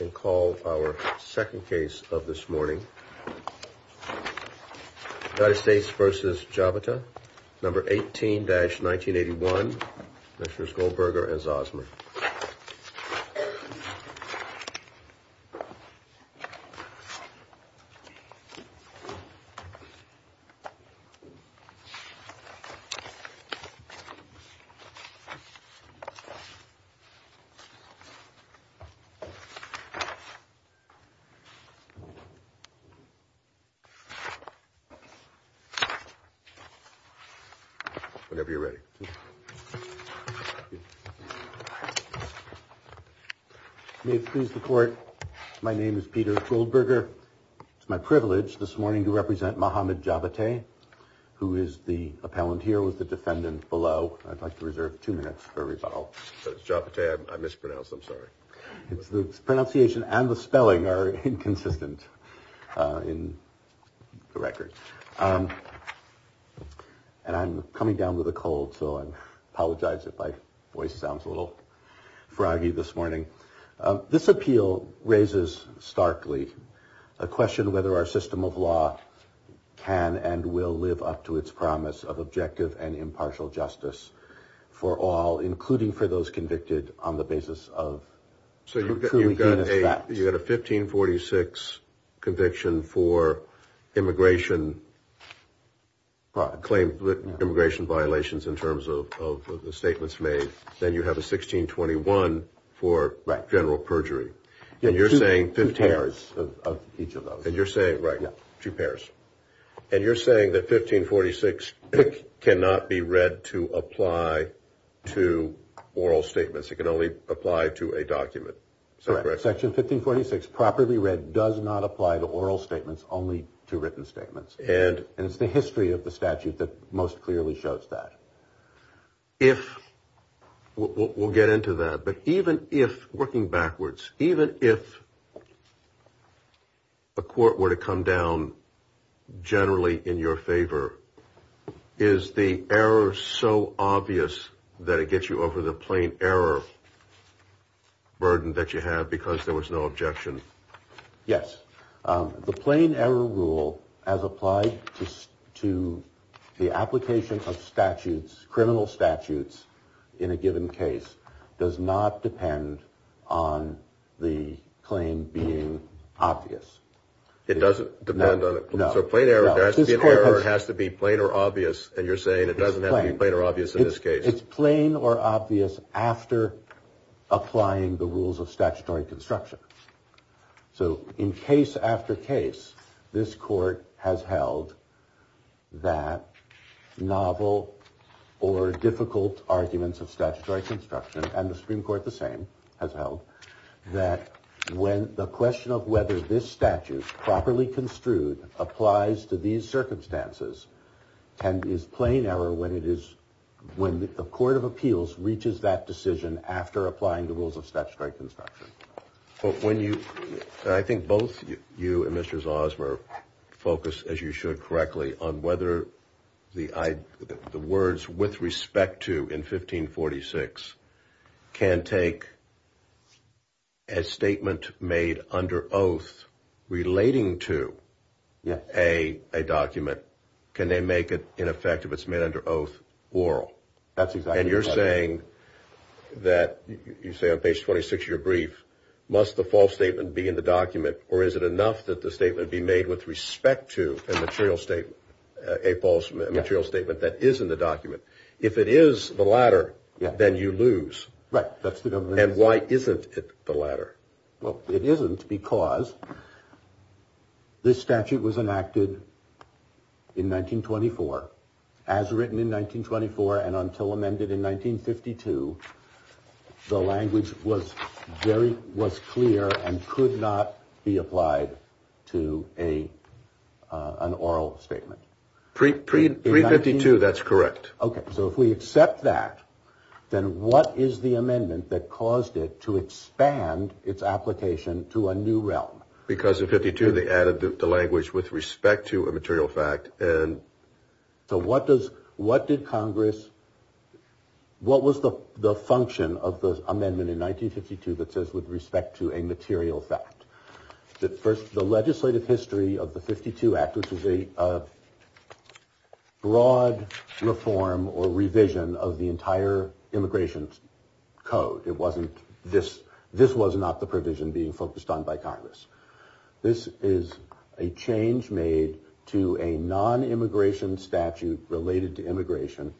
and call our second case of this morning. United States v. Jabateh, number 18-1981, Mr. Schoenberger and Ms. Zosman. Whenever you're ready. May it please the court, my name is Peter Schoenberger. It's my privilege this morning to represent Mohammad Jabateh, who is the appellant here, was the defendant below. I'd like to reserve two minutes for rebuttal. Jabateh, I mispronounced, I'm sorry. It's the pronunciation and the spelling are inconsistent in the record. And I'm coming down with a cold, so I apologize if my voice sounds a little froggy this morning. This appeal raises starkly a question whether our system of law can and will live up to its promise of objective and impartial justice for all, including for those convicted on the basis of. So you've got a you've got a 1546 conviction for immigration. Claim that immigration violations in terms of the statements made, then you have a 1621 for general perjury. And you're saying that 1546 cannot be read to apply to oral statements. It can only apply to a document. Section 1546 properly read does not apply to oral statements, only to written statements. And it's the history of the statute that most clearly shows that. If we'll get into that, but even if working backwards, even if. A court were to come down generally in your favor, is the error so obvious that it gets you over the plain error burden that you have because there was no objection? Yes. The plain error rule as applied to to the application of statutes, criminal statutes in a given case does not depend on the claim being obvious. It doesn't depend on a plain error. There has to be an error. It has to be plain or obvious. And you're saying it doesn't have to be plain or obvious in this case. It's plain or obvious after applying the rules of statutory construction. So in case after case, this court has held that novel or difficult arguments of statutory construction. And the Supreme Court the same has held that when the question of whether this statute properly construed applies to these circumstances and is plain error when it is when the court of appeals reaches that decision after applying the rules of statutory construction. But when you I think both you and Mr. Ozmer focus, as you should correctly, on whether the I the words with respect to in 1546 can take. As statement made under oath relating to a document, can they make it ineffective? It's made under oath oral. That's exactly you're saying that you say on page 26 of your brief. Must the false statement be in the document or is it enough that the statement be made with respect to a material statement, a false material statement that is in the document? If it is the latter, then you lose. Right. That's the government. And why isn't it the latter? Well, it isn't because this statute was enacted in 1924 as written in 1924. And until amended in 1952, the language was very was clear and could not be applied to a an oral statement. That's correct. OK, so if we accept that, then what is the amendment that caused it to expand its application to a new realm? Because of 52, they added the language with respect to a material fact. And so what does what did Congress. What was the function of the amendment in 1952 that says with respect to a material fact that first, the legislative history of the 52 act, which is a broad reform or revision of the entire immigration code. It wasn't this. This was not the provision being focused on by Congress. This is a change made to a non-immigration statute related to immigration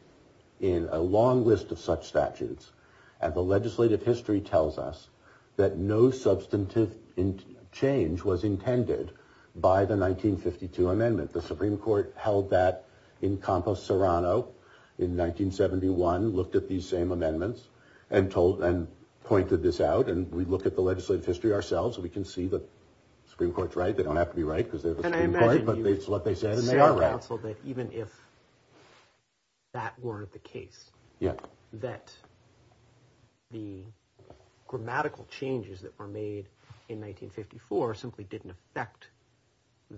in a long list of such statutes. And the legislative history tells us that no substantive change was intended by the 1952 amendment. The Supreme Court held that in Campos Serrano in 1971, looked at these same amendments and told and pointed this out. And we look at the legislative history ourselves and we can see the Supreme Court's right. They don't have to be right because they're the Supreme Court. But it's what they said. And they are right. So that even if that weren't the case. Yeah. That the grammatical changes that were made in 1954 simply didn't affect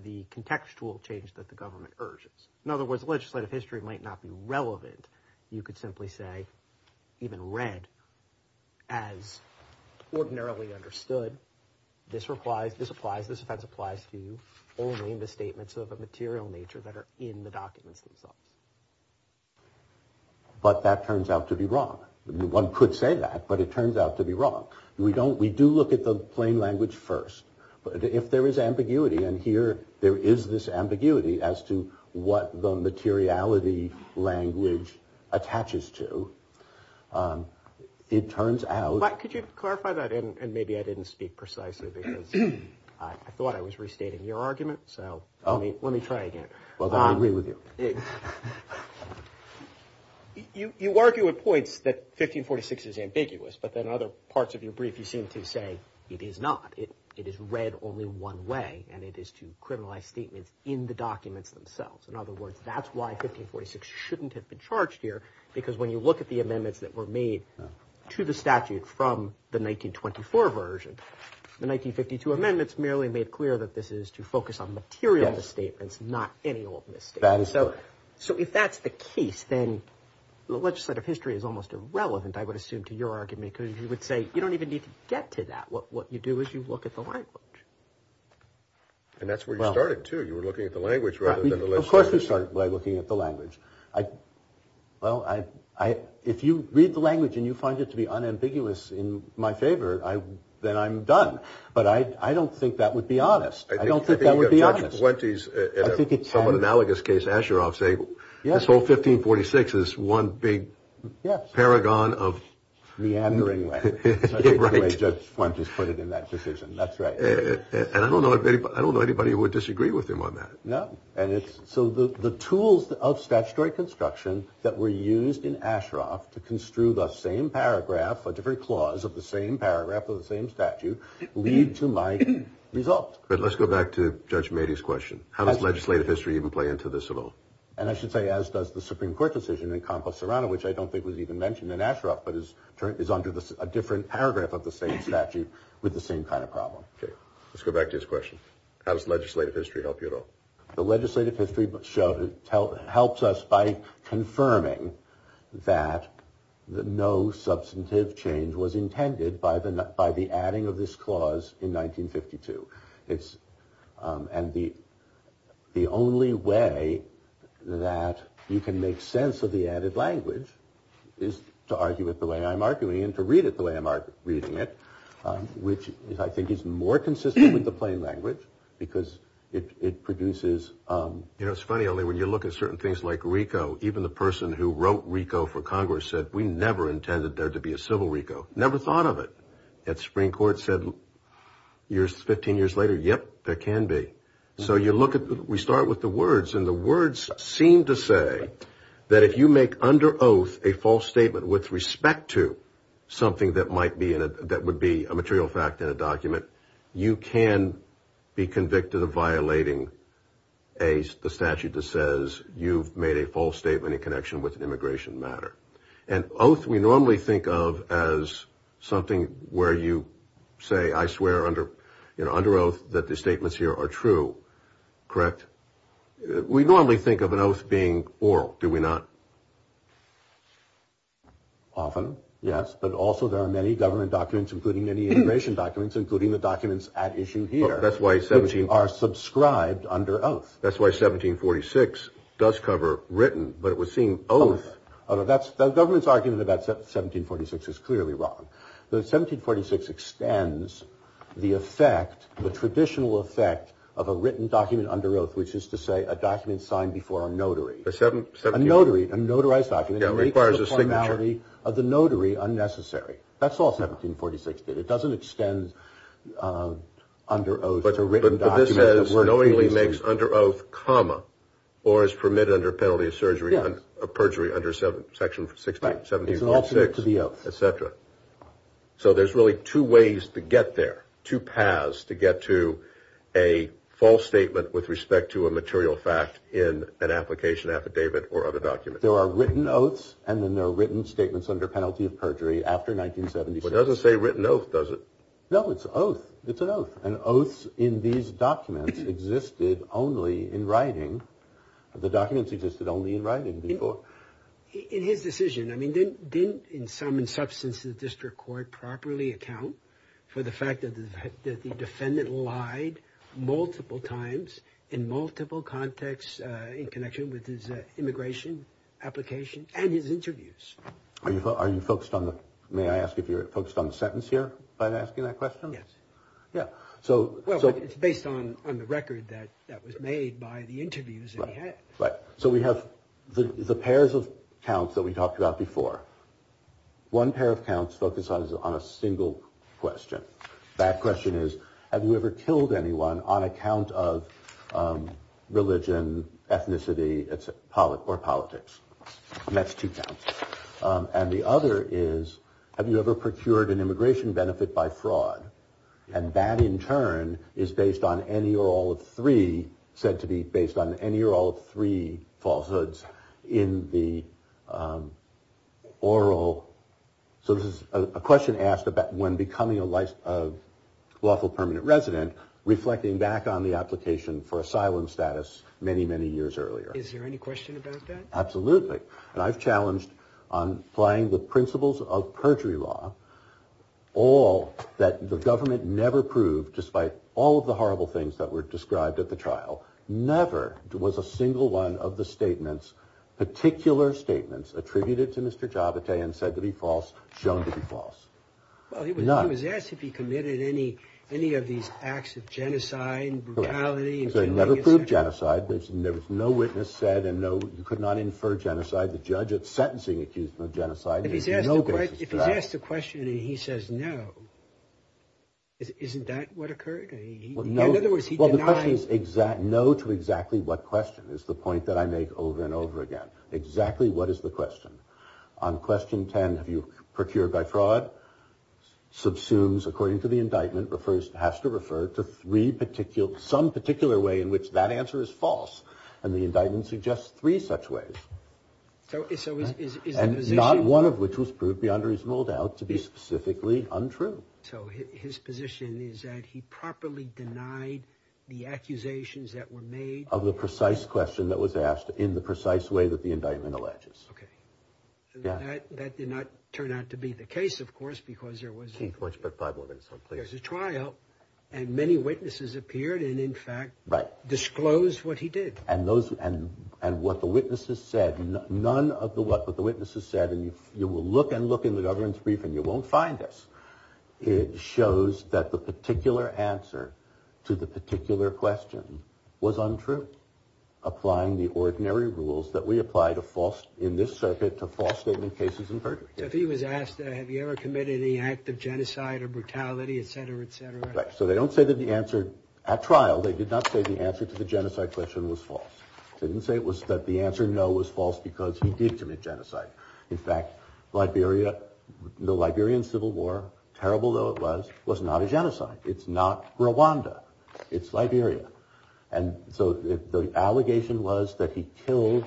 the contextual change that the government urges. In other words, legislative history might not be relevant. You could simply say even read as ordinarily understood. This applies. This applies. This applies to only the statements of a material nature that are in the documents themselves. But that turns out to be wrong. One could say that, but it turns out to be wrong. We don't we do look at the plain language first. But if there is ambiguity and here there is this ambiguity as to what the materiality language attaches to, it turns out. But could you clarify that? And maybe I didn't speak precisely because I thought I was restating your argument. So let me let me try again. Well, I agree with you. You argue at points that 1546 is ambiguous, but then other parts of your brief, you seem to say it is not it. It is read only one way and it is to criminalize statements in the documents themselves. In other words, that's why 1546 shouldn't have been charged here. Because when you look at the amendments that were made to the statute from the 1924 version, the 1952 amendments merely made clear that this is to focus on material statements, not any old. That is so. So if that's the case, then the legislative history is almost irrelevant, I would assume, to your argument. Because you would say you don't even need to get to that. What you do is you look at the language. And that's where you started, too. You were looking at the language. Of course, we start by looking at the language. Well, I if you read the language and you find it to be unambiguous in my favor, then I'm done. But I don't think that would be honest. I don't think that would be honest. I think it's somewhat analogous case. Asher, I'll say this whole 1546 is one big paragon of meandering. Right. Just want to put it in that position. That's right. And I don't know. I don't know anybody who would disagree with him on that. No. And it's so the tools of statutory construction that were used in Ashraf to construe the same paragraph, a different clause of the same paragraph of the same statute lead to my result. But let's go back to Judge Mady's question. How does legislative history even play into this at all? And I should say, as does the Supreme Court decision encompass around, which I don't think was even mentioned in Ashraf, but is is under a different paragraph of the same statute with the same kind of problem. Let's go back to his question. How does legislative history help you at all? The legislative history showed it helps us by confirming that no substantive change was intended by the by the adding of this clause in 1952. It's and the the only way that you can make sense of the added language is to argue with the way I'm arguing and to read it the way I'm reading it, which I think is more consistent with the plain language because it produces. You know, it's funny only when you look at certain things like Rico. Even the person who wrote Rico for Congress said we never intended there to be a civil Rico. Never thought of it at Supreme Court said years, 15 years later. Yep, there can be. So you look at we start with the words and the words seem to say that if you make under oath a false statement with respect to something that might be in it, that would be a material fact in a document. You can be convicted of violating a statute that says you've made a false statement in connection with an immigration matter. And oath we normally think of as something where you say, I swear under, you know, under oath that the statements here are true. Correct. We normally think of an oath being oral, do we not? Often, yes, but also there are many government documents, including many immigration documents, including the documents at issue here. That's why 17 are subscribed under oath. That's why 1746 does cover written. But it was seen. Oh, that's the government's argument about 1746 is clearly wrong. The 1746 extends the effect, the traditional effect of a written document under oath, which is to say a document signed before a notary. A seven, a notary, a notarized document requires a signality of the notary unnecessary. That's all 1746 did. It doesn't extend under oath. But this says knowingly makes under oath comma or is permitted under penalty of surgery and perjury under seven sections. Sixty seven is an alternate to the etcetera. So there's really two ways to get there. Two paths to get to a false statement with respect to a material fact in an application affidavit or other documents. There are written oaths and then there are written statements under penalty of perjury. But it doesn't say written oath, does it? No, it's oath. It's an oath. And oaths in these documents existed only in writing. The documents existed only in writing before. In his decision, I mean, didn't didn't in some in substance, the district court properly account for the fact that the defendant lied multiple times in multiple contexts in connection with his immigration application and his interviews. Are you are you focused on the may I ask if you're focused on the sentence here by asking that question? Yes. Yeah. So it's based on the record that that was made by the interviews. Right. So we have the pairs of counts that we talked about before. One pair of counts focuses on a single question. That question is, have you ever killed anyone on account of religion, ethnicity or politics? And that's two counts. And the other is, have you ever procured an immigration benefit by fraud? And that in turn is based on any or all of three said to be based on any or all three falsehoods in the oral. So this is a question asked about when becoming a life of lawful permanent resident, reflecting back on the application for asylum status many, many years earlier. Is there any question about that? Absolutely. And I've challenged on playing the principles of perjury law. All that the government never proved, despite all of the horrible things that were described at the trial. Never was a single one of the statements, particular statements attributed to Mr. Javita and said to be false, shown to be false. Well, he was not. He was asked if he committed any any of these acts of genocide, brutality. They never proved genocide. There was no witness said and no you could not infer genocide. The judge at sentencing accused of genocide. If he's asked the question and he says no. Isn't that what occurred? No. Well, the question is exact. No to exactly what question is the point that I make over and over again. Exactly what is the question on question 10? Have you procured by fraud subsumes? According to the indictment, the first has to refer to three particular some particular way in which that answer is false. And the indictment suggests three such ways. So it's always not one of which was proved beyond reasonable doubt to be specifically untrue. So his position is that he properly denied the accusations that were made of the precise question that was asked in the precise way that the indictment alleges. OK, yeah, that did not turn out to be the case, of course, because there was too much. There's a trial and many witnesses appeared and in fact, right. Disclose what he did. And those and and what the witnesses said, none of the what the witnesses said. And you will look and look in the government's brief and you won't find this. It shows that the particular answer to the particular question was untrue. Applying the ordinary rules that we apply to false in this circuit to false statement cases. If he was asked, have you ever committed any act of genocide or brutality, et cetera, et cetera. So they don't say that the answer at trial, they did not say the answer to the genocide question was false. They didn't say it was that the answer no was false because he did commit genocide. In fact, Liberia, the Liberian Civil War, terrible, though it was was not a genocide. It's not Rwanda. It's Liberia. And so the allegation was that he killed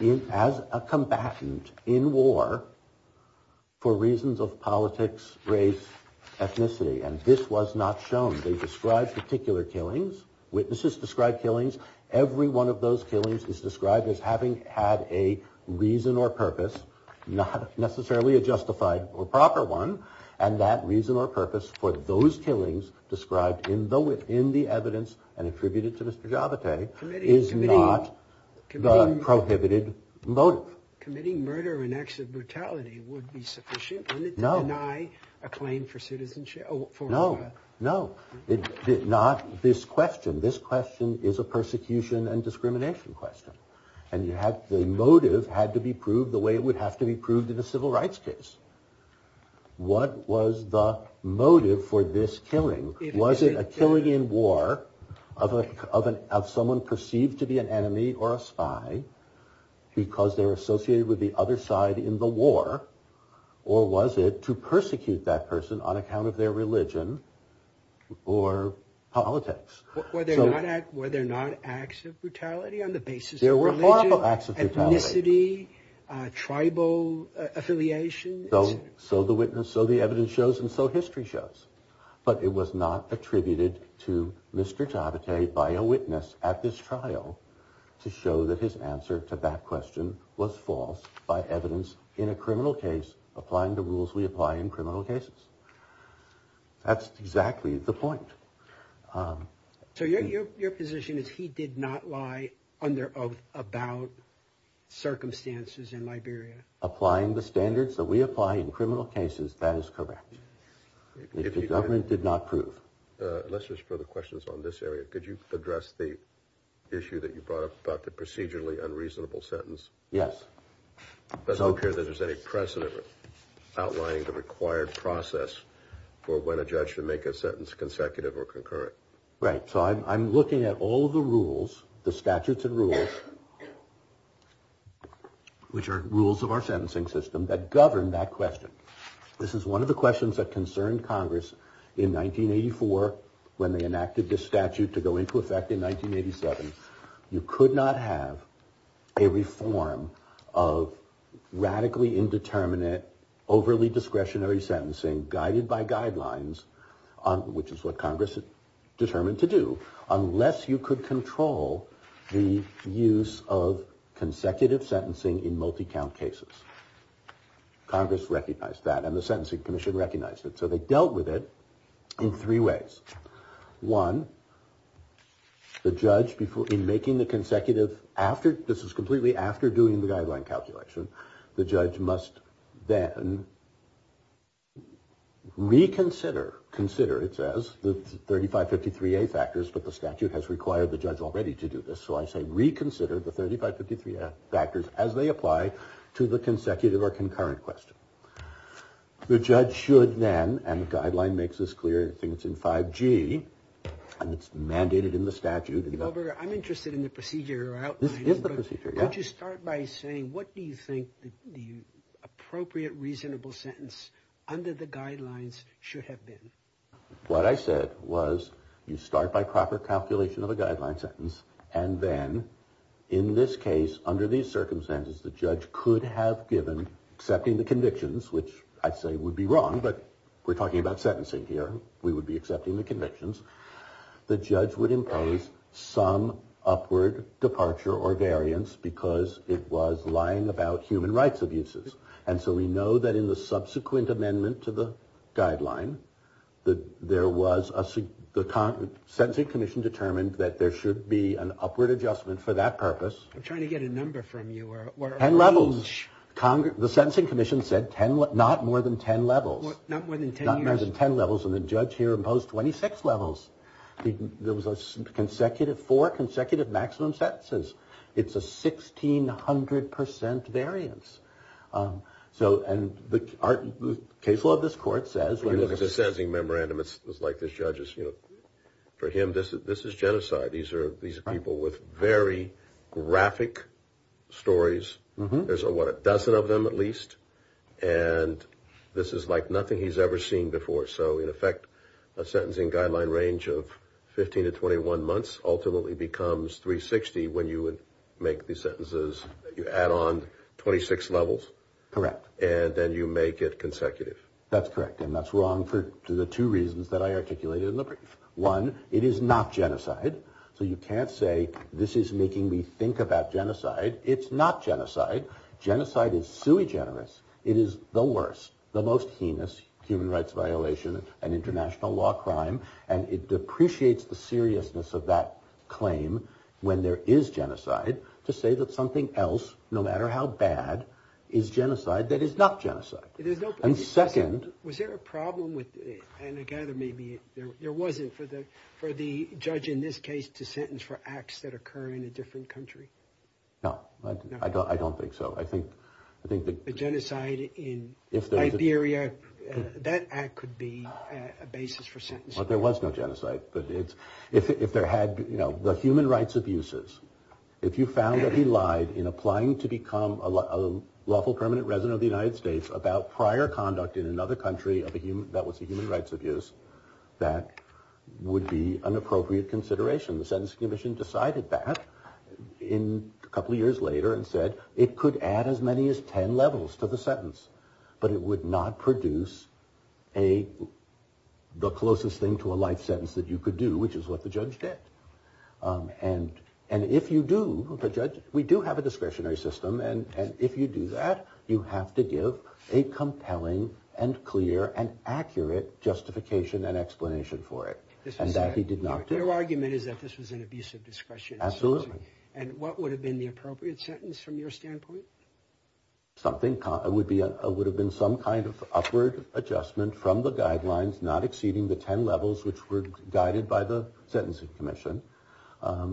him as a combatant in war for reasons of politics, race, ethnicity. And this was not shown. They described particular killings. Witnesses described killings. Every one of those killings is described as having had a reason or purpose, not necessarily a justified or proper one. And that reason or purpose for those killings described in the wit in the evidence and attributed to Mr. Javita is not prohibited. Both committing murder and acts of brutality would be sufficient to deny a claim for citizenship. No, no, not this question. This question is a persecution and discrimination question. And you have the motive had to be proved the way it would have to be proved in a civil rights case. What was the motive for this killing? Was it a killing in war of an of someone perceived to be an enemy or a spy because they're associated with the other side in the war? Or was it to persecute that person on account of their religion or politics? Were there not acts of brutality on the basis of religion, ethnicity, tribal affiliation? So the witness, so the evidence shows and so history shows. But it was not attributed to Mr. Javita by a witness at this trial to show that his answer to that question was false. By evidence in a criminal case, applying the rules we apply in criminal cases. That's exactly the point. So your position is he did not lie under oath about circumstances in Liberia? Applying the standards that we apply in criminal cases, that is correct. If the government did not prove. Let's just throw the questions on this area. Could you address the issue that you brought up about the procedurally unreasonable sentence? Yes. Does it appear that there's any precedent outlining the required process for when a judge should make a sentence consecutive or concurrent? Right. So I'm looking at all the rules, the statutes and rules. Which are rules of our sentencing system that govern that question. This is one of the questions that concerned Congress in 1984 when they enacted this statute to go into effect in 1987. You could not have a reform of radically indeterminate, overly discretionary sentencing guided by guidelines. Which is what Congress determined to do unless you could control the use of consecutive sentencing in multi count cases. Congress recognized that and the Sentencing Commission recognized it. So they dealt with it in three ways. One. The judge before in making the consecutive after this is completely after doing the guideline calculation. The judge must then reconsider. Consider it says the thirty five fifty three factors. But the statute has required the judge already to do this. So I say reconsider the thirty five fifty three factors as they apply to the consecutive or concurrent question. The judge should then and the guideline makes this clear. I think it's in 5G and it's mandated in the statute. I'm interested in the procedure. This is the procedure. Don't you start by saying what do you think the appropriate reasonable sentence under the guidelines should have been? What I said was you start by proper calculation of a guideline sentence. And then in this case, under these circumstances, the judge could have given accepting the convictions, which I'd say would be wrong. But we're talking about sentencing here. We would be accepting the convictions. The judge would impose some upward departure or variance because it was lying about human rights abuses. And so we know that in the subsequent amendment to the guideline that there was a sentencing commission determined that there should be an upward adjustment for that purpose. I'm trying to get a number from you. And levels Congress. The Sentencing Commission said 10, not more than 10 levels, not more than 10 levels. And the judge here imposed 26 levels. There was a consecutive four consecutive maximum sentences. It's a 1600 percent variance. So and the case law of this court says. You look at the sentencing memorandum. It's like this judge is, you know, for him, this is genocide. These are these people with very graphic stories. There's a dozen of them at least. And this is like nothing he's ever seen before. So in effect, a sentencing guideline range of 15 to 21 months ultimately becomes 360. When you would make these sentences, you add on 26 levels. Correct. And then you make it consecutive. That's correct. And that's wrong for the two reasons that I articulated in the brief. One, it is not genocide. So you can't say this is making me think about genocide. It's not genocide. Genocide is sui generis. It is the worst, the most heinous human rights violation and international law crime. And it depreciates the seriousness of that claim. When there is genocide to say that something else, no matter how bad is genocide, that is not genocide. There's no second. Was there a problem with it? And I gather maybe there wasn't for the for the judge in this case to sentence for acts that occur in a different country. No, I don't. I don't think so. I think I think the genocide in the area that could be a basis for sentence. But there was no genocide. But it's if there had been, you know, the human rights abuses. If you found that he lied in applying to become a lawful permanent resident of the United States about prior conduct in another country of a human, that was a human rights abuse, that would be an appropriate consideration. The Sentencing Commission decided that in a couple of years later and said it could add as many as 10 levels to the sentence, but it would not produce a the closest thing to a life sentence that you could do, which is what the judge did. And and if you do the judge, we do have a discretionary system. And if you do that, you have to give a compelling and clear and accurate justification and explanation for it. And that he did not do argument is that this was an abuse of discretion. Absolutely. And what would have been the appropriate sentence from your standpoint? Something would be a would have been some kind of upward adjustment from the guidelines not exceeding the 10 levels, which were guided by the Sentencing Commission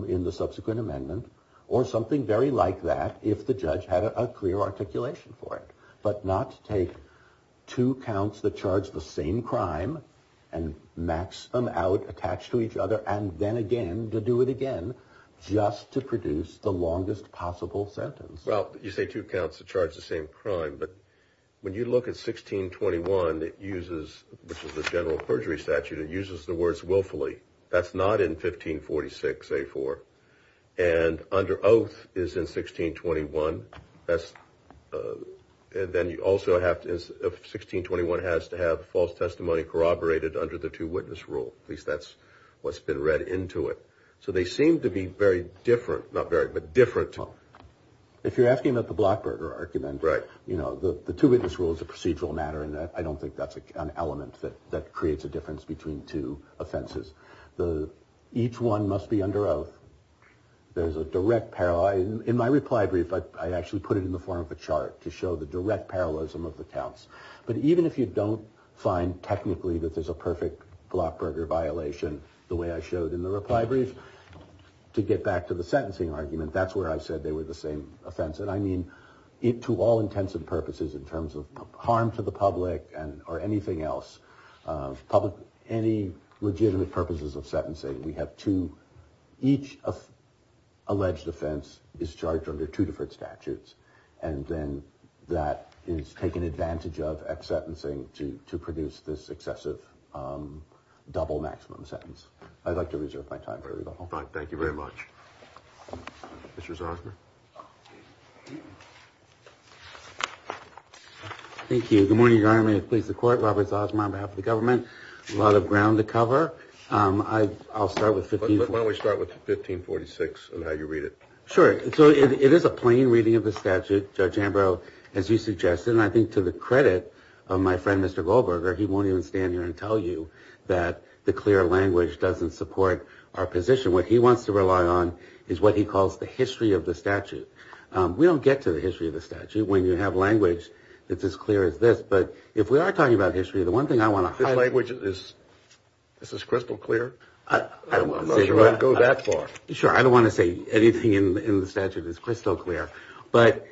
in the subsequent amendment or something very like that. If the judge had a clear articulation for it, but not to take two counts that charge the same crime and max them out, attach to each other and then again to do it again just to produce the longest possible sentence. Well, you say two counts to charge the same crime. But when you look at 1621, that uses the general perjury statute, it uses the words willfully. That's not in 1546, a four. And under oath is in 1621. That's and then you also have to have 1621 has to have false testimony corroborated under the two witness rule. At least that's what's been read into it. So they seem to be very different, not very, but different. If you're asking about the Blackbird or argument, right? You know, the two witness rules, the procedural matter, and I don't think that's an element that that creates a difference between two offenses. The each one must be under oath. There's a direct parallel in my reply brief. But I actually put it in the form of a chart to show the direct parallelism of the counts. But even if you don't find technically that there's a perfect Blackbird violation, the way I showed in the reply brief to get back to the sentencing argument, that's where I said they were the same offense. And I mean it to all intents and purposes in terms of harm to the public and or anything else public. Any legitimate purposes of sentencing. We have to each of alleged offense is charged under two different statutes. And then that is taken advantage of at sentencing to to produce this excessive double maximum sentence. I'd like to reserve my time. Thank you very much. Thank you. Good morning, Your Honor. May it please the court. Robert Osborne, on behalf of the government. A lot of ground to cover. I'll start with 15. Why don't we start with 1546 and how you read it? Sure. So it is a plain reading of the statute, Judge Ambrose, as you suggested. And I think to the credit of my friend, Mr. Goldberger, he won't even stand here and tell you that the clear language doesn't support our position. What he wants to rely on is what he calls the history of the statute. We don't get to the history of the statute when you have language that's as clear as this. But if we are talking about history, the one thing I want to highlight which is this is crystal clear. I don't want to go that far. Sure. I don't want to say anything in the statute is crystal clear. But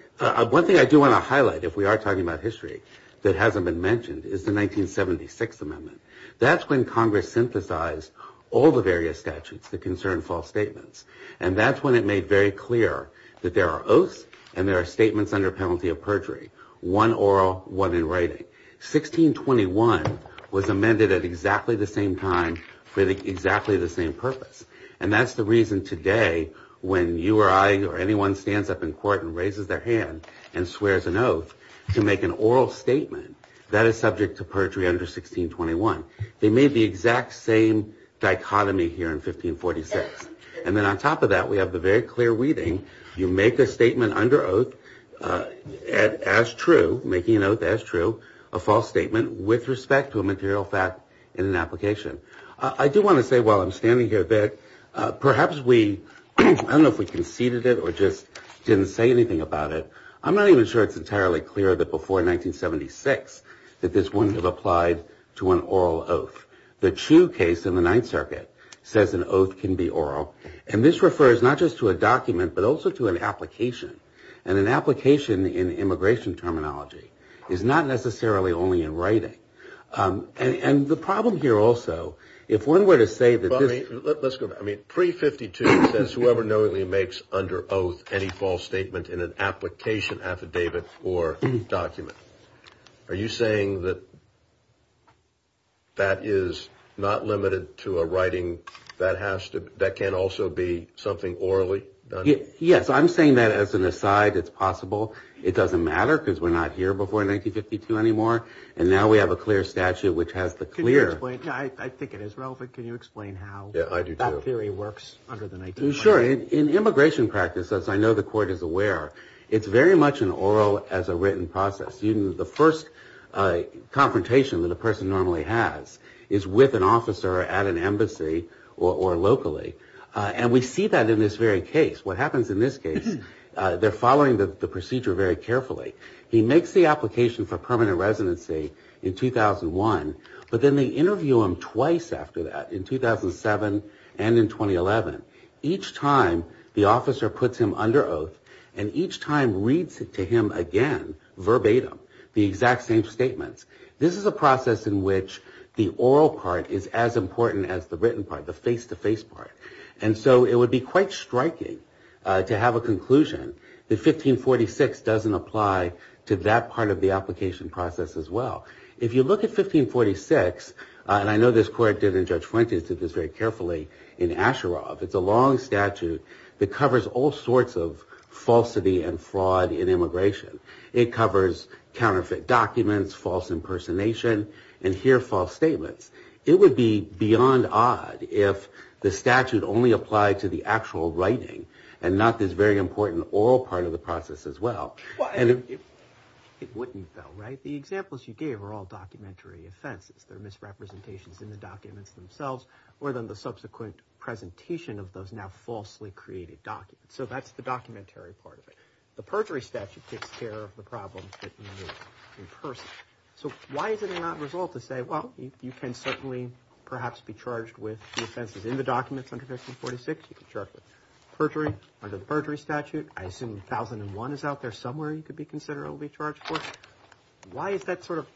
one thing I do want to highlight if we are talking about history that hasn't been mentioned is the 1976 amendment. That's when Congress synthesized all the various statutes that concern false statements. And that's when it made very clear that there are oaths and there are statements under penalty of perjury. One oral, one in writing. 1621 was amended at exactly the same time for exactly the same purpose. And that's the reason today when you or I or anyone stands up in court and raises their hand and swears an oath to make an oral statement that is subject to perjury under 1621. They made the exact same dichotomy here in 1546. And then on top of that, we have the very clear reading. You make a statement under oath as true, making an oath as true, a false statement with respect to a material fact in an application. I do want to say while I'm standing here that perhaps we, I don't know if we conceded it or just didn't say anything about it. I'm not even sure it's entirely clear that before 1976 that this wouldn't have applied to an oral oath. The true case in the Ninth Circuit says an oath can be oral. And this refers not just to a document, but also to an application. And an application in immigration terminology is not necessarily only in writing. And the problem here also, if one were to say that let's go. I mean, pre-52 says whoever knowingly makes under oath any false statement in an application affidavit or document. Are you saying that that is not limited to a writing that has to that can also be something orally? Yes, I'm saying that as an aside, it's possible. It doesn't matter because we're not here before 1952 anymore. And now we have a clear statute which has the clear. I think it is relevant. Can you explain how that theory works? Sure. In immigration practice, as I know the court is aware, it's very much an oral as a written process. The first confrontation that a person normally has is with an officer at an embassy or locally. And we see that in this very case. What happens in this case, they're following the procedure very carefully. He makes the application for permanent residency in 2001. But then they interview him twice after that in 2007 and in 2011. Each time the officer puts him under oath and each time reads it to him again verbatim, the exact same statements. This is a process in which the oral part is as important as the written part, the face to face part. And so it would be quite striking to have a conclusion that 1546 doesn't apply to that part of the application process as well. If you look at 1546, and I know this court did in Judge Fuentes did this very carefully in Asheroff, it's a long statute that covers all sorts of falsity and fraud in immigration. It covers counterfeit documents, false impersonation, and here false statements. It would be beyond odd if the statute only applied to the actual writing and not this very important oral part of the process as well. And it wouldn't though, right? The examples you gave are all documentary offenses. They're misrepresentations in the documents themselves or in the subsequent presentation of those now falsely created documents. So that's the documentary part of it. The perjury statute takes care of the problems in person. So why is it an odd result to say, well, you can certainly perhaps be charged with the offenses in the documents under 1546. You can charge with perjury under the perjury statute. I assume 1001 is out there somewhere you could be considered to be charged for. Why is that sort of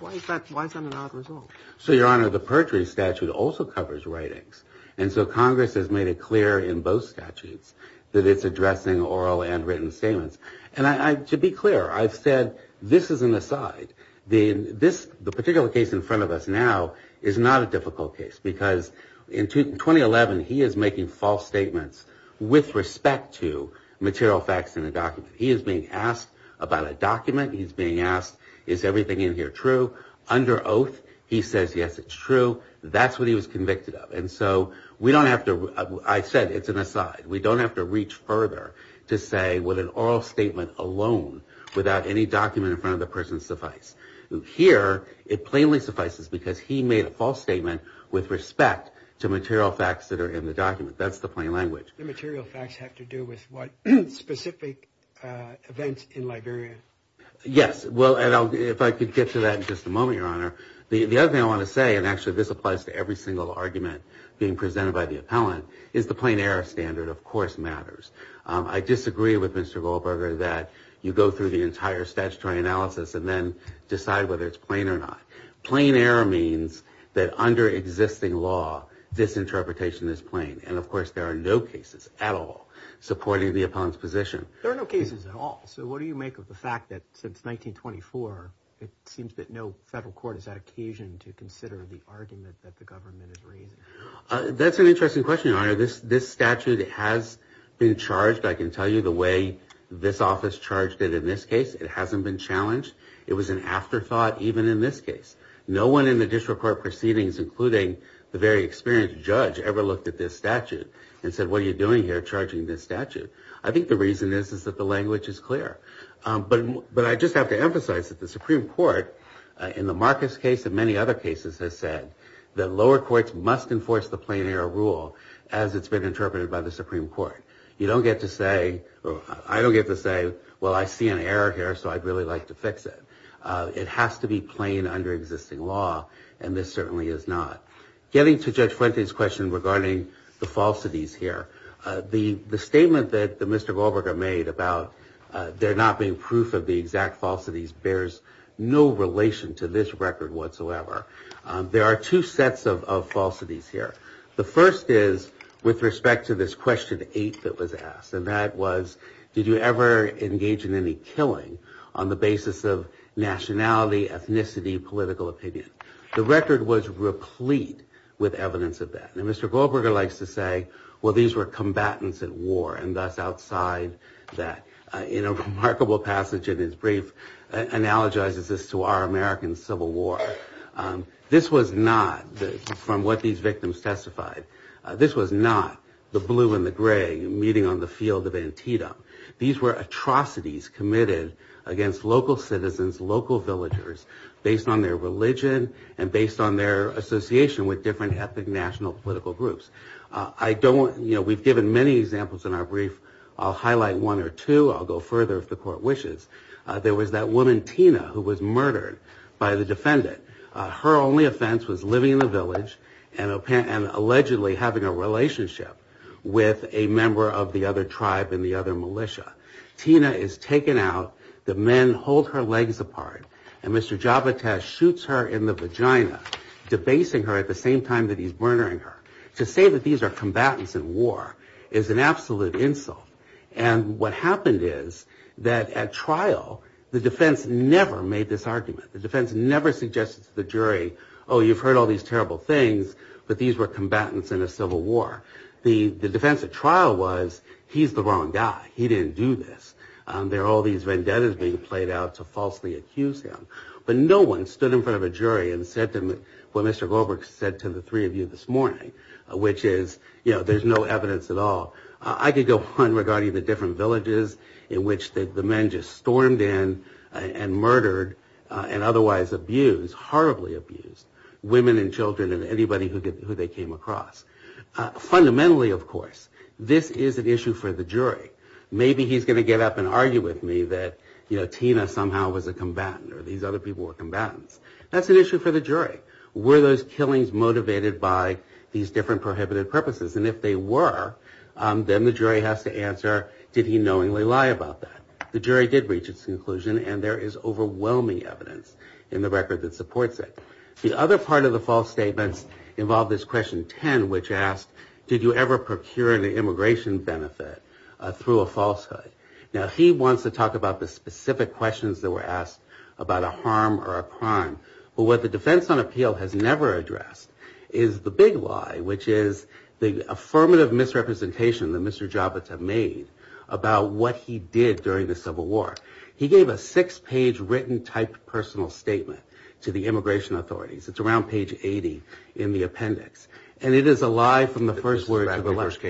why is that why is that an odd result? So, Your Honor, the perjury statute also covers writings. And so Congress has made it clear in both statutes that it's addressing oral and written statements. And to be clear, I've said this is an aside. The particular case in front of us now is not a difficult case. Because in 2011, he is making false statements with respect to material facts in the document. He is being asked about a document. He's being asked, is everything in here true? Under oath, he says, yes, it's true. That's what he was convicted of. And so we don't have to I said it's an aside. We don't have to reach further to say with an oral statement alone without any document in front of the person suffice. Here, it plainly suffices because he made a false statement with respect to material facts that are in the document. That's the plain language. The material facts have to do with what specific events in Liberia? Yes. Well, if I could get to that in just a moment, Your Honor. The other thing I want to say, and actually this applies to every single argument being presented by the appellant, is the plain error standard, of course, matters. I disagree with Mr. Goldberger that you go through the entire statutory analysis and then decide whether it's plain or not. Plain error means that under existing law, this interpretation is plain. And, of course, there are no cases at all supporting the appellant's position. There are no cases at all. So what do you make of the fact that since 1924, it seems that no federal court has had occasion to consider the argument that the government is raising? That's an interesting question, Your Honor. This statute has been charged, I can tell you, the way this office charged it in this case. It hasn't been challenged. It was an afterthought even in this case. No one in the district court proceedings, including the very experienced judge, ever looked at this statute and said, what are you doing here charging this statute? I think the reason is that the language is clear. But I just have to emphasize that the Supreme Court, in the Marcus case and many other cases, has said that lower courts must enforce the plain error rule as it's been interpreted by the Supreme Court. You don't get to say, or I don't get to say, well, I see an error here, so I'd really like to fix it. It has to be plain under existing law, and this certainly is not. Getting to Judge Fuente's question regarding the falsities here, the statement that Mr. Goldberger made about there not being proof of the exact falsities bears no relation to this record whatsoever. There are two sets of falsities here. The first is with respect to this question eight that was asked, and that was, did you ever engage in any killing on the basis of nationality, ethnicity, political opinion? The record was replete with evidence of that. And Mr. Goldberger likes to say, well, these were combatants at war and thus outside that. In a remarkable passage in his brief, analogizes this to our American Civil War. This was not, from what these victims testified, this was not the blue and the gray meeting on the field of Antietam. These were atrocities committed against local citizens, local villagers, based on their religion and based on their association with different ethnic national political groups. I don't, you know, we've given many examples in our brief. I'll highlight one or two. I'll go further if the court wishes. There was that woman, Tina, who was murdered by the defendant. Her only offense was living in the village and allegedly having a relationship with a member of the other tribe and the other militia. Tina is taken out. The men hold her legs apart. And Mr. Jabotas shoots her in the vagina, debasing her at the same time that he's murdering her. To say that these are combatants at war is an absolute insult. And what happened is that at trial, the defense never made this argument. The defense never suggested to the jury, oh, you've heard all these terrible things, but these were combatants in a civil war. The defense at trial was, he's the wrong guy. He didn't do this. There are all these vendettas being played out to falsely accuse him. But no one stood in front of a jury and said to him what Mr. Goldberg said to the three of you this morning, which is, you know, there's no evidence at all. I could go on regarding the different villages in which the men just stormed in and murdered and otherwise abused, horribly abused, women and children and anybody who they came across. Fundamentally, of course, this is an issue for the jury. Maybe he's going to get up and argue with me that, you know, Tina somehow was a combatant or these other people were combatants. But were those killings motivated by these different prohibited purposes? And if they were, then the jury has to answer, did he knowingly lie about that? The jury did reach its conclusion, and there is overwhelming evidence in the record that supports it. The other part of the false statements involved this question 10, which asked, did you ever procure an immigration benefit through a falsehood? Now, he wants to talk about the specific questions that were asked about a harm or a crime. But what the defense on appeal has never addressed is the big lie, which is the affirmative misrepresentation that Mr. Javits had made about what he did during the Civil War. He gave a six-page written typed personal statement to the immigration authorities. It's around page 80 in the appendix. And it is a lie from the first word to the last.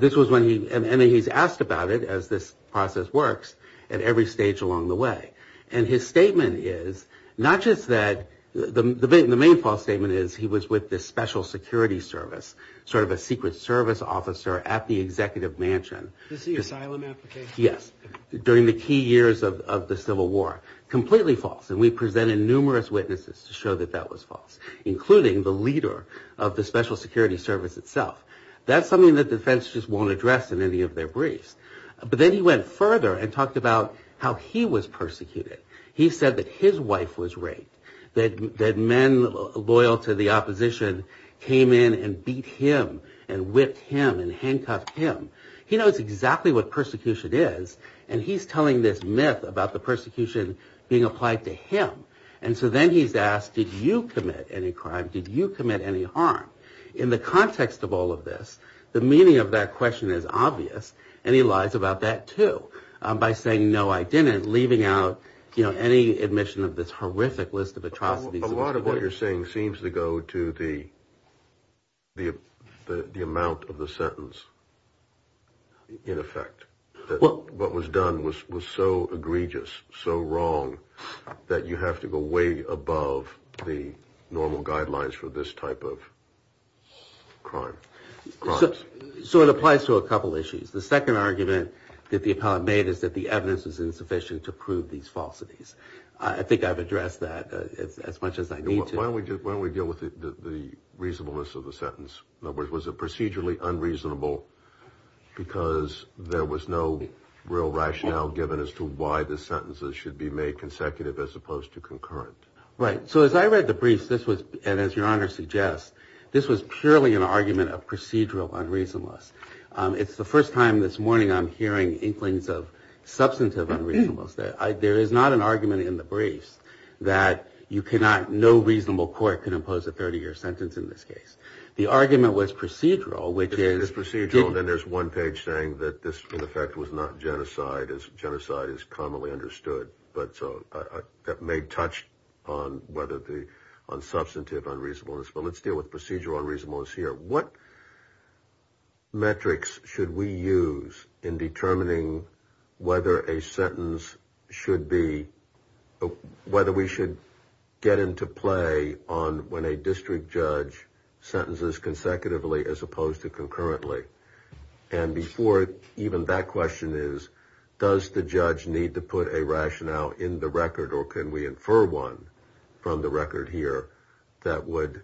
This was when he, and he's asked about it, as this process works, at every stage along the way. And his statement is not just that, the main false statement is he was with the Special Security Service, sort of a secret service officer at the executive mansion. Yes, during the key years of the Civil War. Completely false, and we presented numerous witnesses to show that that was false. Including the leader of the Special Security Service itself. That's something that defense just won't address in any of their briefs. But then he went further and talked about how he was persecuted. He said that his wife was raped. That men loyal to the opposition came in and beat him and whipped him and handcuffed him. He knows exactly what persecution is, and he's telling this myth about the persecution being applied to him. And so then he's asked, did you commit any crime, did you commit any harm? In the context of all of this, the meaning of that question is obvious. And he lies about that, too. By saying, no, I didn't, leaving out any admission of this horrific list of atrocities. A lot of what you're saying seems to go to the amount of the sentence. In effect. What was done was so egregious, so wrong, that you have to go way above the normal guidelines for this type of crime. So it applies to a couple issues. The second argument that the appellate made is that the evidence was insufficient to prove these falsities. I think I've addressed that as much as I need to. Why don't we deal with the reasonableness of the sentence? In other words, was it procedurally unreasonable because there was no real rationale given as to why the sentences should be made consecutive as opposed to concurrent? Right. So as I read the briefs, and as your honor suggests, this was purely an argument of procedural unreasonableness. It's the first time this morning I'm hearing inklings of substantive unreasonableness. There is not an argument in the briefs that no reasonable court can impose a 30-year sentence in this case. The argument was procedural, which is procedural. And there's one page saying that this, in effect, was not genocide, as genocide is commonly understood. But so that may touch on whether the on substantive unreasonableness. But let's deal with procedural reasonableness here. What metrics should we use in determining whether a sentence should be whether we should get into play on when a district judge says, I'm going to make sentences consecutively as opposed to concurrently? And before even that question is, does the judge need to put a rationale in the record or can we infer one from the record here that would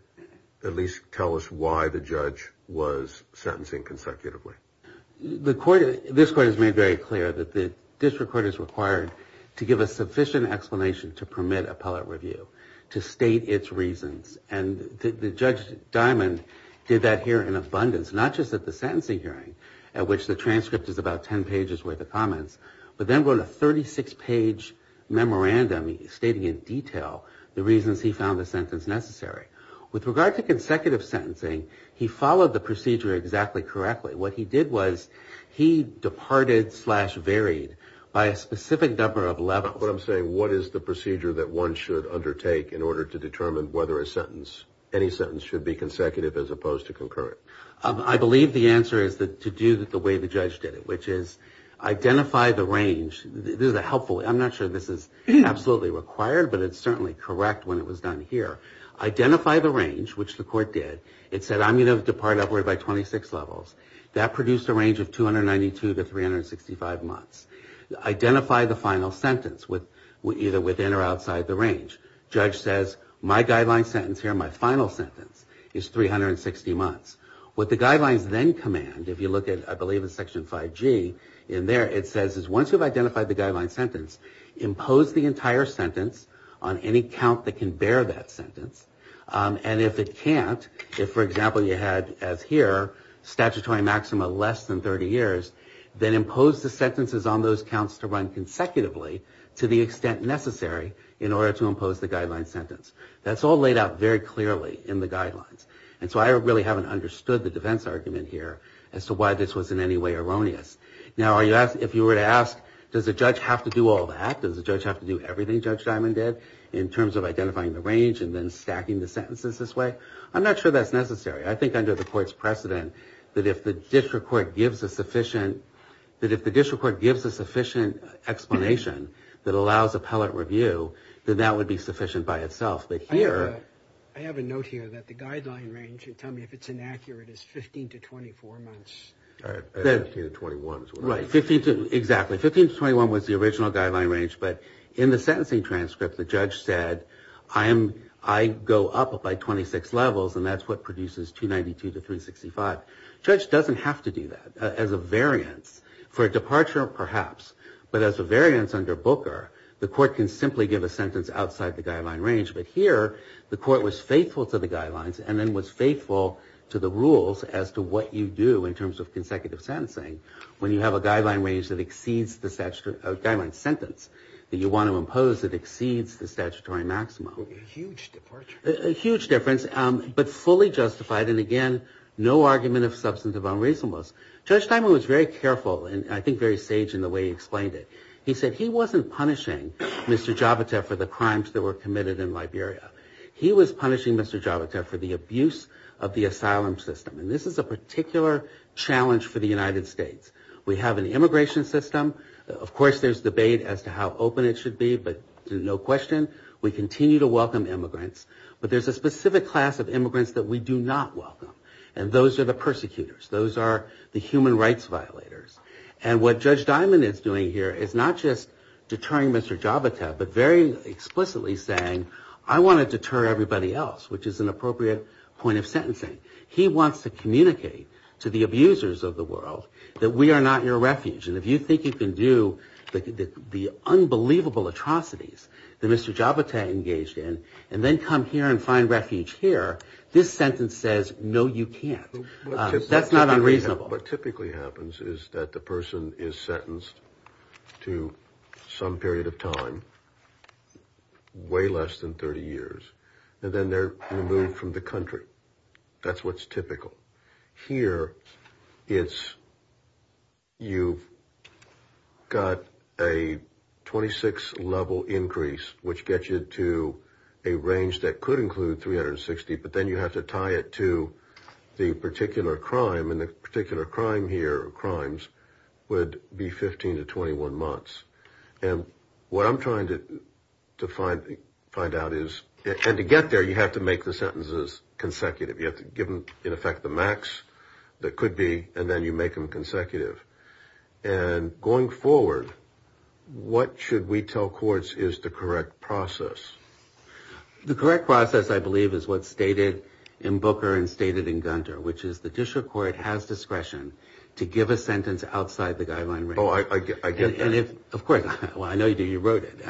at least tell us why the judge was sentencing consecutively? This court has made very clear that the district court is required to give a sufficient explanation to permit appellate review, to state its reasons. And Judge Diamond did that here in abundance, not just at the sentencing hearing, at which the transcript is about 10 pages worth of comments, but then wrote a 36-page memorandum stating in detail the reasons he found the sentence necessary. With regard to consecutive sentencing, he followed the procedure exactly correctly. What he did was he departed slash varied by a specific number of levels. What I'm saying, what is the procedure that one should undertake in order to determine whether a sentence, any sentence should be consecutive as opposed to concurrent? I believe the answer is to do it the way the judge did it, which is identify the range. This is a helpful, I'm not sure this is absolutely required, but it's certainly correct when it was done here. Identify the range, which the court did. It said I'm going to depart upward by 26 levels. That produced a range of 292 to 365 months. Identify the final sentence, either within or outside the range. Judge says my guideline sentence here, my final sentence, is 360 months. What the guidelines then command, if you look at I believe it's section 5G in there, it says once you've identified the guideline sentence, impose the entire sentence on any count that can bear that sentence. And if it can't, if for example you had as here statutory maxima less than 30 years, then impose the sentences on those counts to run consecutively to the extent necessary in order to impose the guideline sentence. That's all laid out very clearly in the guidelines. And so I really haven't understood the defense argument here as to why this was in any way erroneous. Now if you were to ask, does the judge have to do all that? Does the judge have to do everything Judge Diamond did in terms of identifying the range and then stacking the sentences this way? I'm not sure that's necessary. I think under the court's precedent that if the district court gives a sufficient explanation that allows appellate review, then that would be sufficient by itself. But here... I have a note here that the guideline range, tell me if it's inaccurate, is 15 to 24 months. 15 to 21 is what it was. Right, exactly. 15 to 21 was the original guideline range, but in the sentencing transcript the judge said I go up by 26 levels and that's what produces 292 to 365. Judge doesn't have to do that as a variance. For a departure, perhaps. But as a variance under Booker, the court can simply give a sentence outside the guideline range. But here, the court was faithful to the guidelines and then was faithful to the rules as to what you do in terms of consecutive sentencing. When you have a guideline range that exceeds the guideline sentence that you want to impose that exceeds the statutory maximum. A huge difference. A huge difference, but fully justified, and again, no argument of substantive unreasonableness. Judge Diamond was very careful and I think very sage in the way he explained it. He said he wasn't punishing Mr. Javita for the crimes that were committed in Liberia. He was punishing Mr. Javita for the abuse of the asylum system. And this is a particular challenge for the United States. We have an immigration system. Of course, there's debate as to how open it should be, but no question, we continue to welcome immigrants. But there's a specific class of immigrants that we do not welcome. And those are the persecutors. Those are the human rights violators. And what Judge Diamond is doing here is not just deterring Mr. Javita, but very explicitly saying, I want to deter everybody else, which is an appropriate point of sentencing. He wants to communicate to the abusers of the world that we are not your refuge. And if you think you can do the unbelievable atrocities that Mr. Javita engaged in and then come here and find refuge here, this sentence says, no, you can't. That's not unreasonable. And the particular crime here, or crimes, would be 15 to 21 months. And what I'm trying to find out is, and to get there, you have to make the sentences consecutive. You have to give them, in effect, the max that could be, and then you make them consecutive. And going forward, what should we tell courts is the correct process? The correct process, I believe, is what's stated in Booker and stated in Gunter, which is, the judicial court has discretion to give a sentence outside the guideline range. Oh, I get that. Of course. Well, I know you do. You wrote it.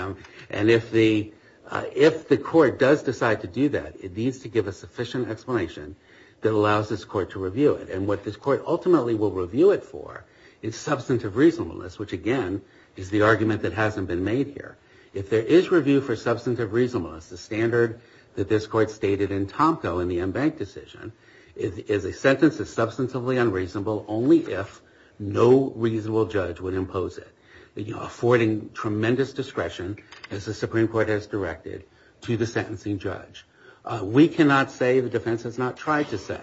And if the court does decide to do that, it needs to give a sufficient explanation that allows this court to review it. And what this court ultimately will review it for is substantive reasonableness, which, again, is the argument that hasn't been made here. If there is review for substantive reasonableness, the standard that this court stated in Tomko in the M-Bank decision, is a sentence that's substantively unreasonable only if no reasonable judge would impose it, affording tremendous discretion, as the Supreme Court has directed, to the sentencing judge. We cannot say, the defense has not tried to say,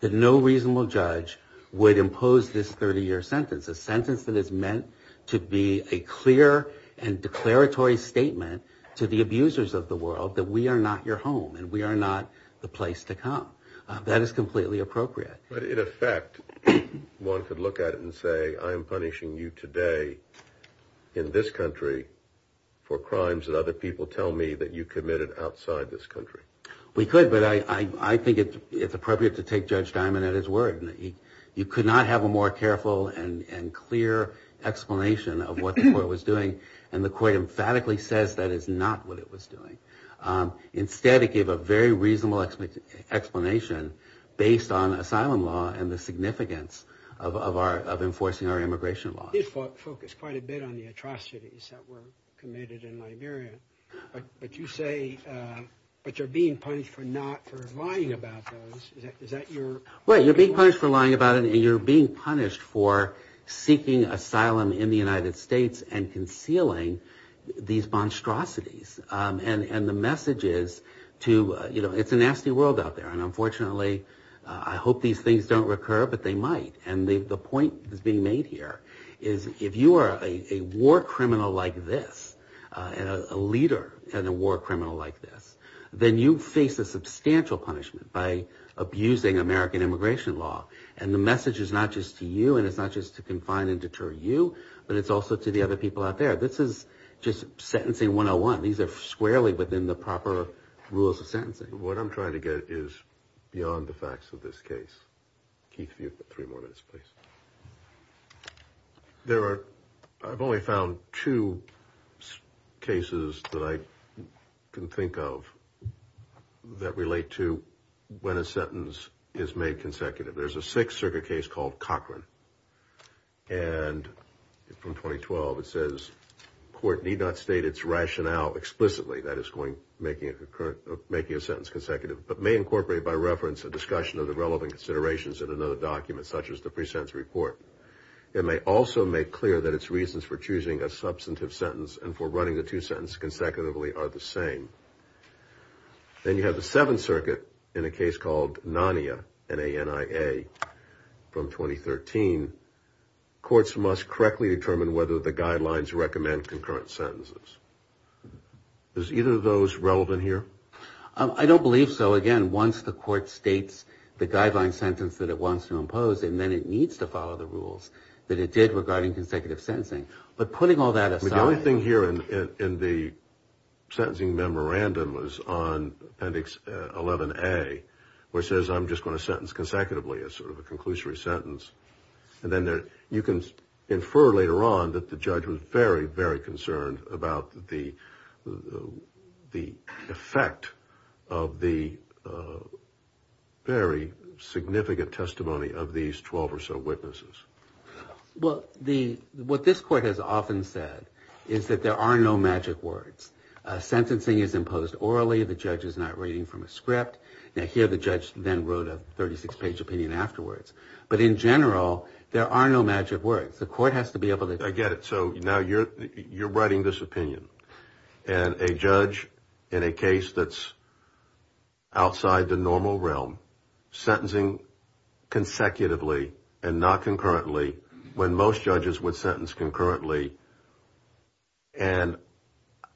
that no reasonable judge would impose this 30-year sentence, a sentence that is meant to be a clear and declaratory statement to the abusers of the world that we are not your home and we are not the place to come. That is completely appropriate. But in effect, one could look at it and say, I am punishing you today in this country for crimes that other people tell me that you committed outside this country. We could, but I think it's appropriate to take Judge Diamond at his word. You could not have a more careful and clear explanation of what the court was doing, and the court emphatically says that is not what it was doing. Instead, it gave a very reasonable explanation based on asylum law and the significance of enforcing our immigration laws. He did focus quite a bit on the atrocities that were committed in Liberia. But you say, but you're being punished for not, for lying about those. Is that your... Well, you're being punished for lying about it and you're being punished for seeking asylum in the United States and concealing these monstrosities. And the message is to, you know, it's a nasty world out there. And unfortunately, I hope these things don't recur, but they might. And the point that's being made here is if you are a war criminal like this and a leader and a war criminal like this, then you face a substantial punishment by abusing American immigration law. And the message is not just to you and it's not just to confine and deter you, but it's also to the other people out there. This is just sentencing 101. These are squarely within the proper rules of sentencing. What I'm trying to get is beyond the facts of this case. Keith, if you have three more minutes, please. There are, I've only found two cases that I can think of that relate to when a sentence is made consecutive. There's a Sixth Circuit case called Cochran. And from 2012, it says, Then you have the Seventh Circuit in a case called Nania, N-A-N-I-A, from 2013. Courts must correctly determine whether the guidelines recommend concurrent sentences. Is either of those relevant here? I don't believe so. Again, once the court states the guideline sentence that it wants to impose, and then it needs to follow the rules that it did regarding consecutive sentencing. But putting all that aside... The only thing here in the sentencing memorandum was on Appendix 11A, where it says I'm just going to sentence consecutively as sort of a conclusory sentence. And then you can infer later on that the judge was very, very concerned about the effect of the very significant testimony of these 12 or so witnesses. Well, what this court has often said is that there are no magic words. Sentencing is imposed orally. The judge is not reading from a script. Now, here the judge then wrote a 36-page opinion afterwards. But in general, there are no magic words. The court has to be able to... I get it. So now you're writing this opinion. And a judge in a case that's outside the normal realm, sentencing consecutively and not concurrently, when most judges would sentence concurrently, and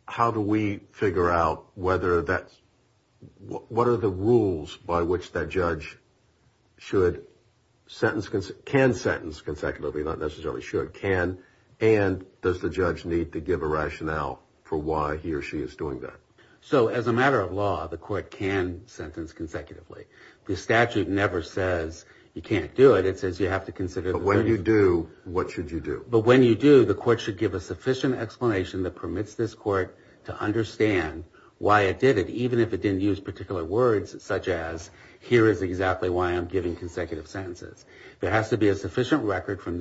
how do we figure out whether that's... What are the rules by which that judge should sentence... can sentence consecutively, not necessarily should, can, and does the judge need to give a rationale for why he or she is doing that? So as a matter of law, the court can sentence consecutively. The statute never says you can't do it. It says you have to consider... But when you do, what should you do? But when you do, the court should give a sufficient explanation that permits this court to understand why it did it, even if it didn't use particular words such as, here is exactly why I'm giving consecutive sentences. There has to be a sufficient record from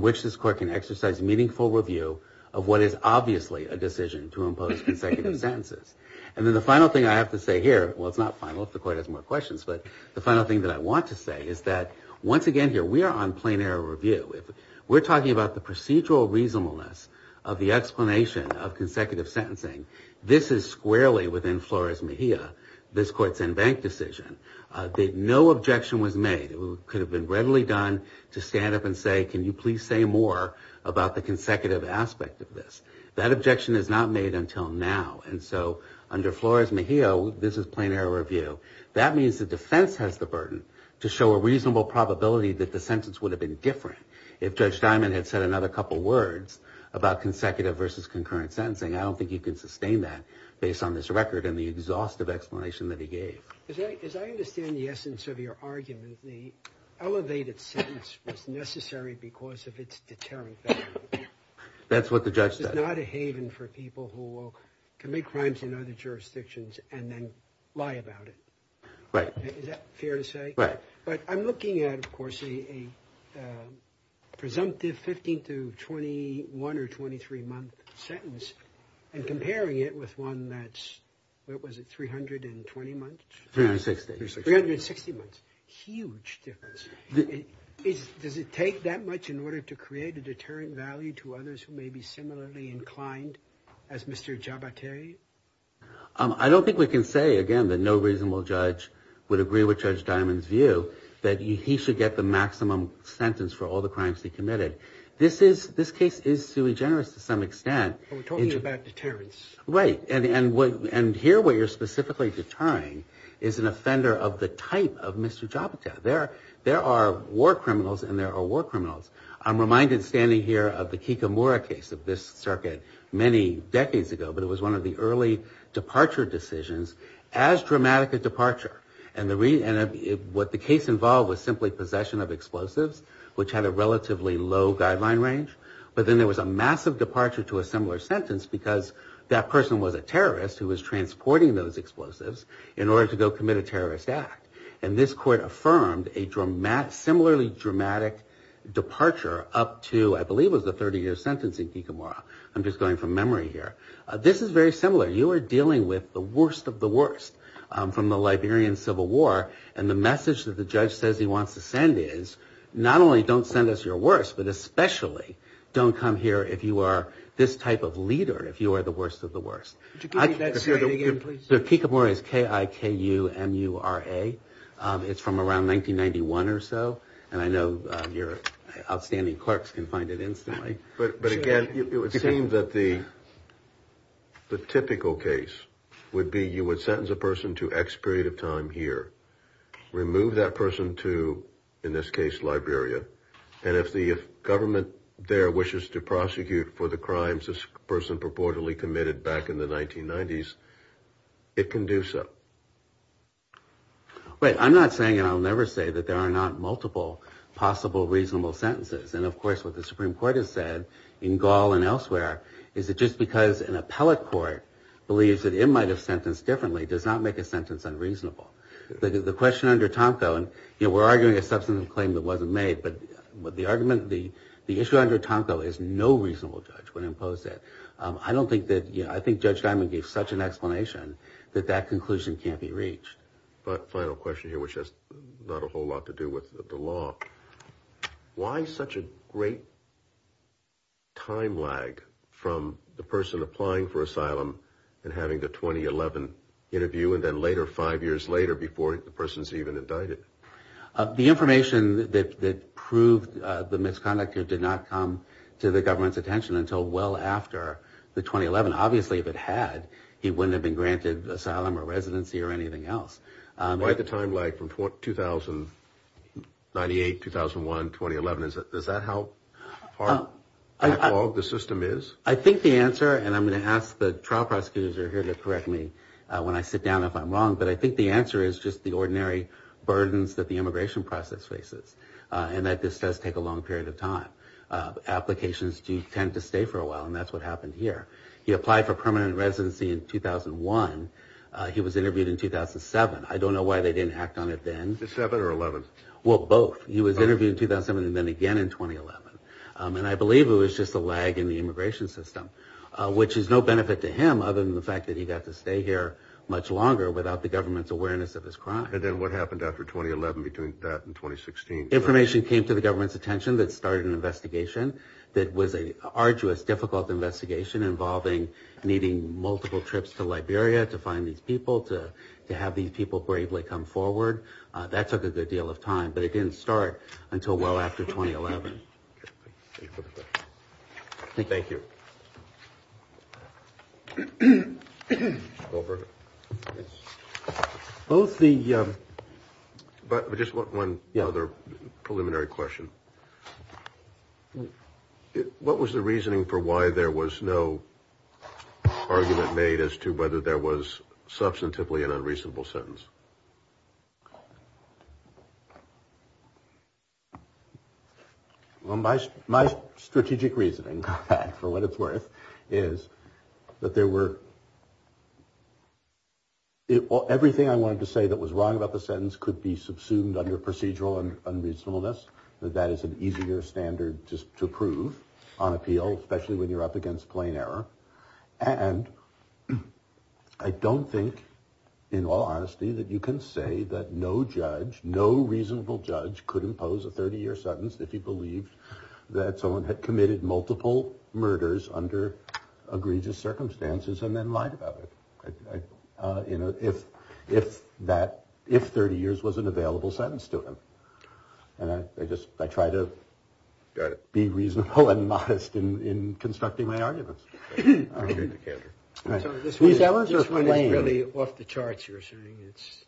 which this court can exercise meaningful review of what is obviously a decision to impose consecutive sentences. And then the final thing I have to say here, well, it's not final if the court has more questions, but the final thing that I want to say is that, once again here, we are on plain error review. We're talking about the procedural reasonableness of the explanation of consecutive sentencing. This is squarely within Flores-Mejia, this court's in-bank decision, that no objection was made. It could have been readily done to stand up and say, can you please say more about the consecutive aspect of this? That objection is not made until now. And so under Flores-Mejia, this is plain error review. That means the defense has the burden to show a reasonable probability that the sentence would have been different if Judge Diamond had said another couple words about consecutive versus concurrent sentencing. I don't think he could sustain that based on this record and the exhaustive explanation that he gave. As I understand the essence of your argument, the elevated sentence was necessary because of its deterrent value. That's what the judge said. It's not a haven for people who will commit crimes in other jurisdictions and then lie about it. Right. Is that fair to say? Right. But I'm looking at, of course, a presumptive 15 to 21 or 23 month sentence and comparing it with one that's, what was it, 320 months? 360. 360 months. Huge difference. Does it take that much in order to create a deterrent value to others who may be similarly inclined as Mr. Jabotay? I don't think we can say, again, that no reasonable judge has a reasonable sentence for all the crimes he committed. This case is sui generis to some extent. We're talking about deterrence. Right. And here where you're specifically deterring is an offender of the type of Mr. Jabotay. There are war criminals and there are war criminals. I'm reminded standing here of the Kikamura case of this circuit many decades ago, but it was one of the early departure decisions as dramatic a departure. And what the case involved was simply possession of explosives, which had a relatively low guideline range. But then there was a massive departure to a similar sentence because that person was a terrorist who was transporting those explosives in order to go commit a terrorist act. And this court affirmed a similarly dramatic departure up to, I believe it was the 30 year sentence in Kikamura. I'm just going from memory here. This is very similar. You are dealing with the worst of the worst from the Liberian Civil War and the message that the judge says he wants to send is not only don't send us your worst, but especially don't come here if you are this type of leader, if you are the worst of the worst. Kikamura is K-I-K-U-M-U-R-A. It's from around 1991 or so. And I know your outstanding clerks can find it instantly. But again, it would seem that the typical case would be you would sentence a person to X period of time here, remove that person to in this case Liberia. And if the government there wishes to prosecute for the crimes this person purportedly committed back in the 1990s, it can do so. But I'm not saying and I'll never say that there are not multiple possible reasonable sentences. And of course, what the Supreme Court has said in Gaul and elsewhere is that just because an appellate court believes that they might have sentenced differently does not make a sentence unreasonable. The question under Tomko, and we're arguing a substantive claim that wasn't made, but the argument, the issue under Tomko is no reasonable judge would impose it. I don't think that, I think Judge Diamond gave such an explanation that that conclusion can't be reached. Final question here, which has not a whole lot to do with the law. Why such a great time lag from the person applying for asylum and having the 2011 interview and then later five years later before the person's even indicted? The information that proved the misconduct did not come to the government's attention until well after the 2011. Obviously, if it had, he wouldn't have been granted asylum or residency or anything else. Why the time lag from 2008, 2001, 2011? Is that how far back the system is? I think the answer, and I'm going to ask the trial prosecutors are here to correct me when I sit down if I'm wrong, but I think the answer is just the ordinary burdens that the immigration process faces and that this does take a long period of time. Applications do tend to stay for a while and that's what happened here. He applied for permanent residency in 2001. He was interviewed in 2007. I don't know why they didn't act on it then. Well, both. He was interviewed in 2007 and then again in 2011. And I believe it was just a lag in the immigration system, which is no benefit to him other than the fact that he got to stay here much longer without the government's awareness of his crime. And then what happened after 2011 between that and 2016? Information came to the government's attention that started an investigation that was an arduous, difficult investigation involving needing multiple trips to Liberia to find these people, to have these people bravely come forward. That took a good deal of time, but it didn't start until well after 2011. Thank you. Both the... Just one other preliminary question. What was the reasoning for why there was no argument made as to whether there was substantively an unreasonable sentence? Well, my my strategic reasoning for what it's worth is that there were. Everything I wanted to say that was wrong about the sentence could be subsumed under procedural and unreasonableness, that that is an easier standard just to prove on appeal, especially when you're up against plain error. And I don't think in all honesty that you can say that no judge, no reasonable judge could impose a 30 year sentence if he believed that someone had committed multiple murders under egregious circumstances and then lied about it. If that, if 30 years was an available sentence to him. And I just, I try to be reasonable and modest in constructing my arguments. This one is really off the charts, you're saying. It's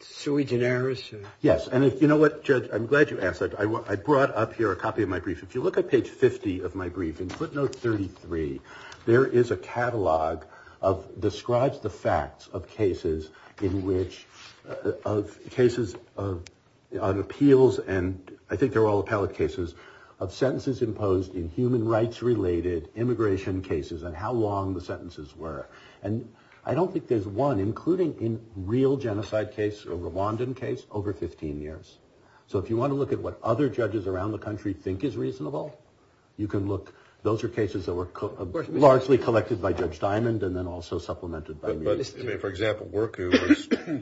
sui generis. Yes, and you know what, Judge, I'm glad you asked that. I brought up here a copy of my brief. If you look at page 50 of my brief in footnote 33, there is a catalog of, describes the facts of cases in which, of cases of appeals and I think they're all appellate cases, of sentences imposed in human cases and how long the sentences were. And I don't think there's one including in real genocide case, a Rwandan case, over 15 years. So if you want to look at what other judges around the country think is reasonable, you can look, those are cases that were largely collected by Judge Diamond and then also supplemented by me. For example,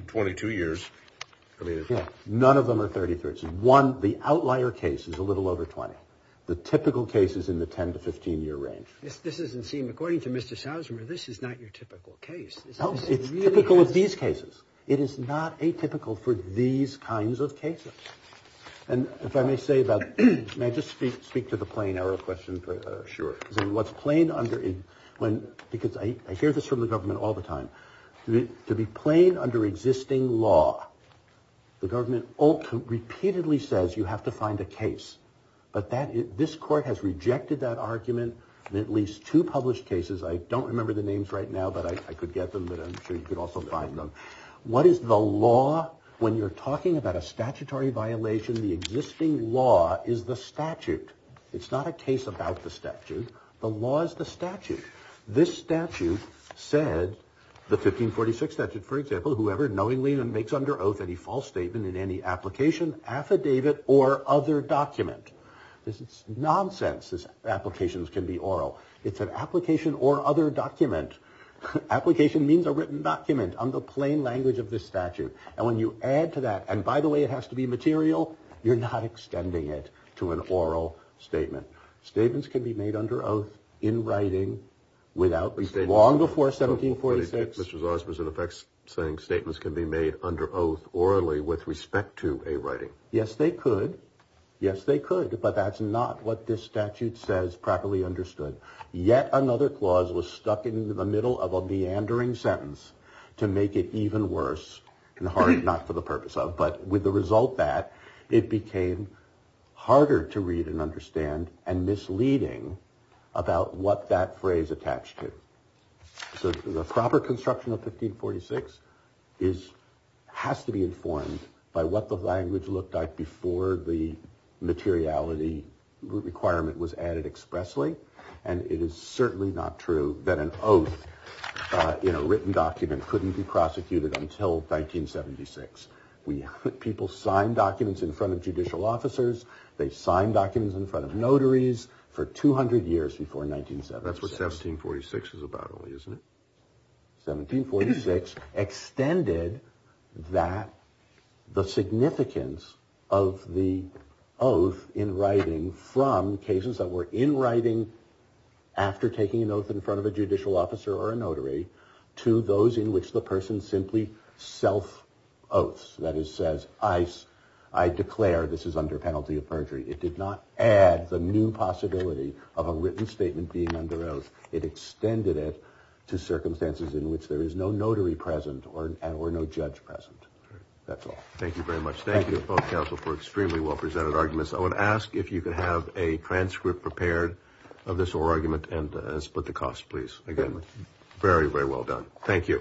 22 years. None of them are 33. One, the outlier case is a little over 20. The typical case is in the 10 to 15 year range. This doesn't seem, according to Mr. Sousmer, this is not your typical case. It's typical of these cases. It is not atypical for these kinds of cases. And if I may say about, may I just speak to the plain arrow question? Sure. What's plain under, because I hear this from the government all the time, to be plain under existing law, the government repeatedly says you have to find a case. But this court has rejected that argument in at least two published cases. I don't remember the names right now, but I could get them, but I'm sure you could also find them. What is the law? When you're talking about a statutory violation, the existing law is the statute. It's not a case about the statute. The law is the statute. This statute said, the 1546 statute, for example, whoever knowingly makes under oath any false statement in any application, affidavit, or other document. This is nonsense. Applications can be oral. It's an application or other document. Application means a written document on the plain language of the statute. And when you add to that, and by the way, it has to be material, you're not extending it to an oral statement. Statements can be made under oath in writing without, long before 1746. Mr. Sousmer is in effect saying statements can be made under oath orally with respect to a writing. Yes, they could. Yes, they could, but that's not what this statute says properly understood. Yet another clause was stuck in the middle of a meandering sentence to make it even worse, not for the purpose of, but with the result that it became harder to read and understand and misleading about what that phrase attached to. So the proper construction of 1546 is, has to be informed by what the language looked like before the materiality requirement was added expressly. And it is certainly not true that an oath in a written document couldn't be prosecuted until 1976. People signed documents in front of judicial officers. They signed documents in front of notaries for 200 years before 1976. That's what 1746 is about, isn't it? 1746 extended that the significance of the oath in writing from cases that were in writing after taking an oath in front of a judicial officer or a notary to those in which the person simply self-oaths. That is, says I, I declare this is under penalty of perjury. It did not add the new possibility of a written statement being under oath. It did not include circumstances in which there is no notary present or no judge present. That's all. Thank you very much. Thank you both counsel for extremely well-presented arguments. I would ask if you could have a transcript prepared of this oral argument and as split the cost, please. Very, very well done. Thank you.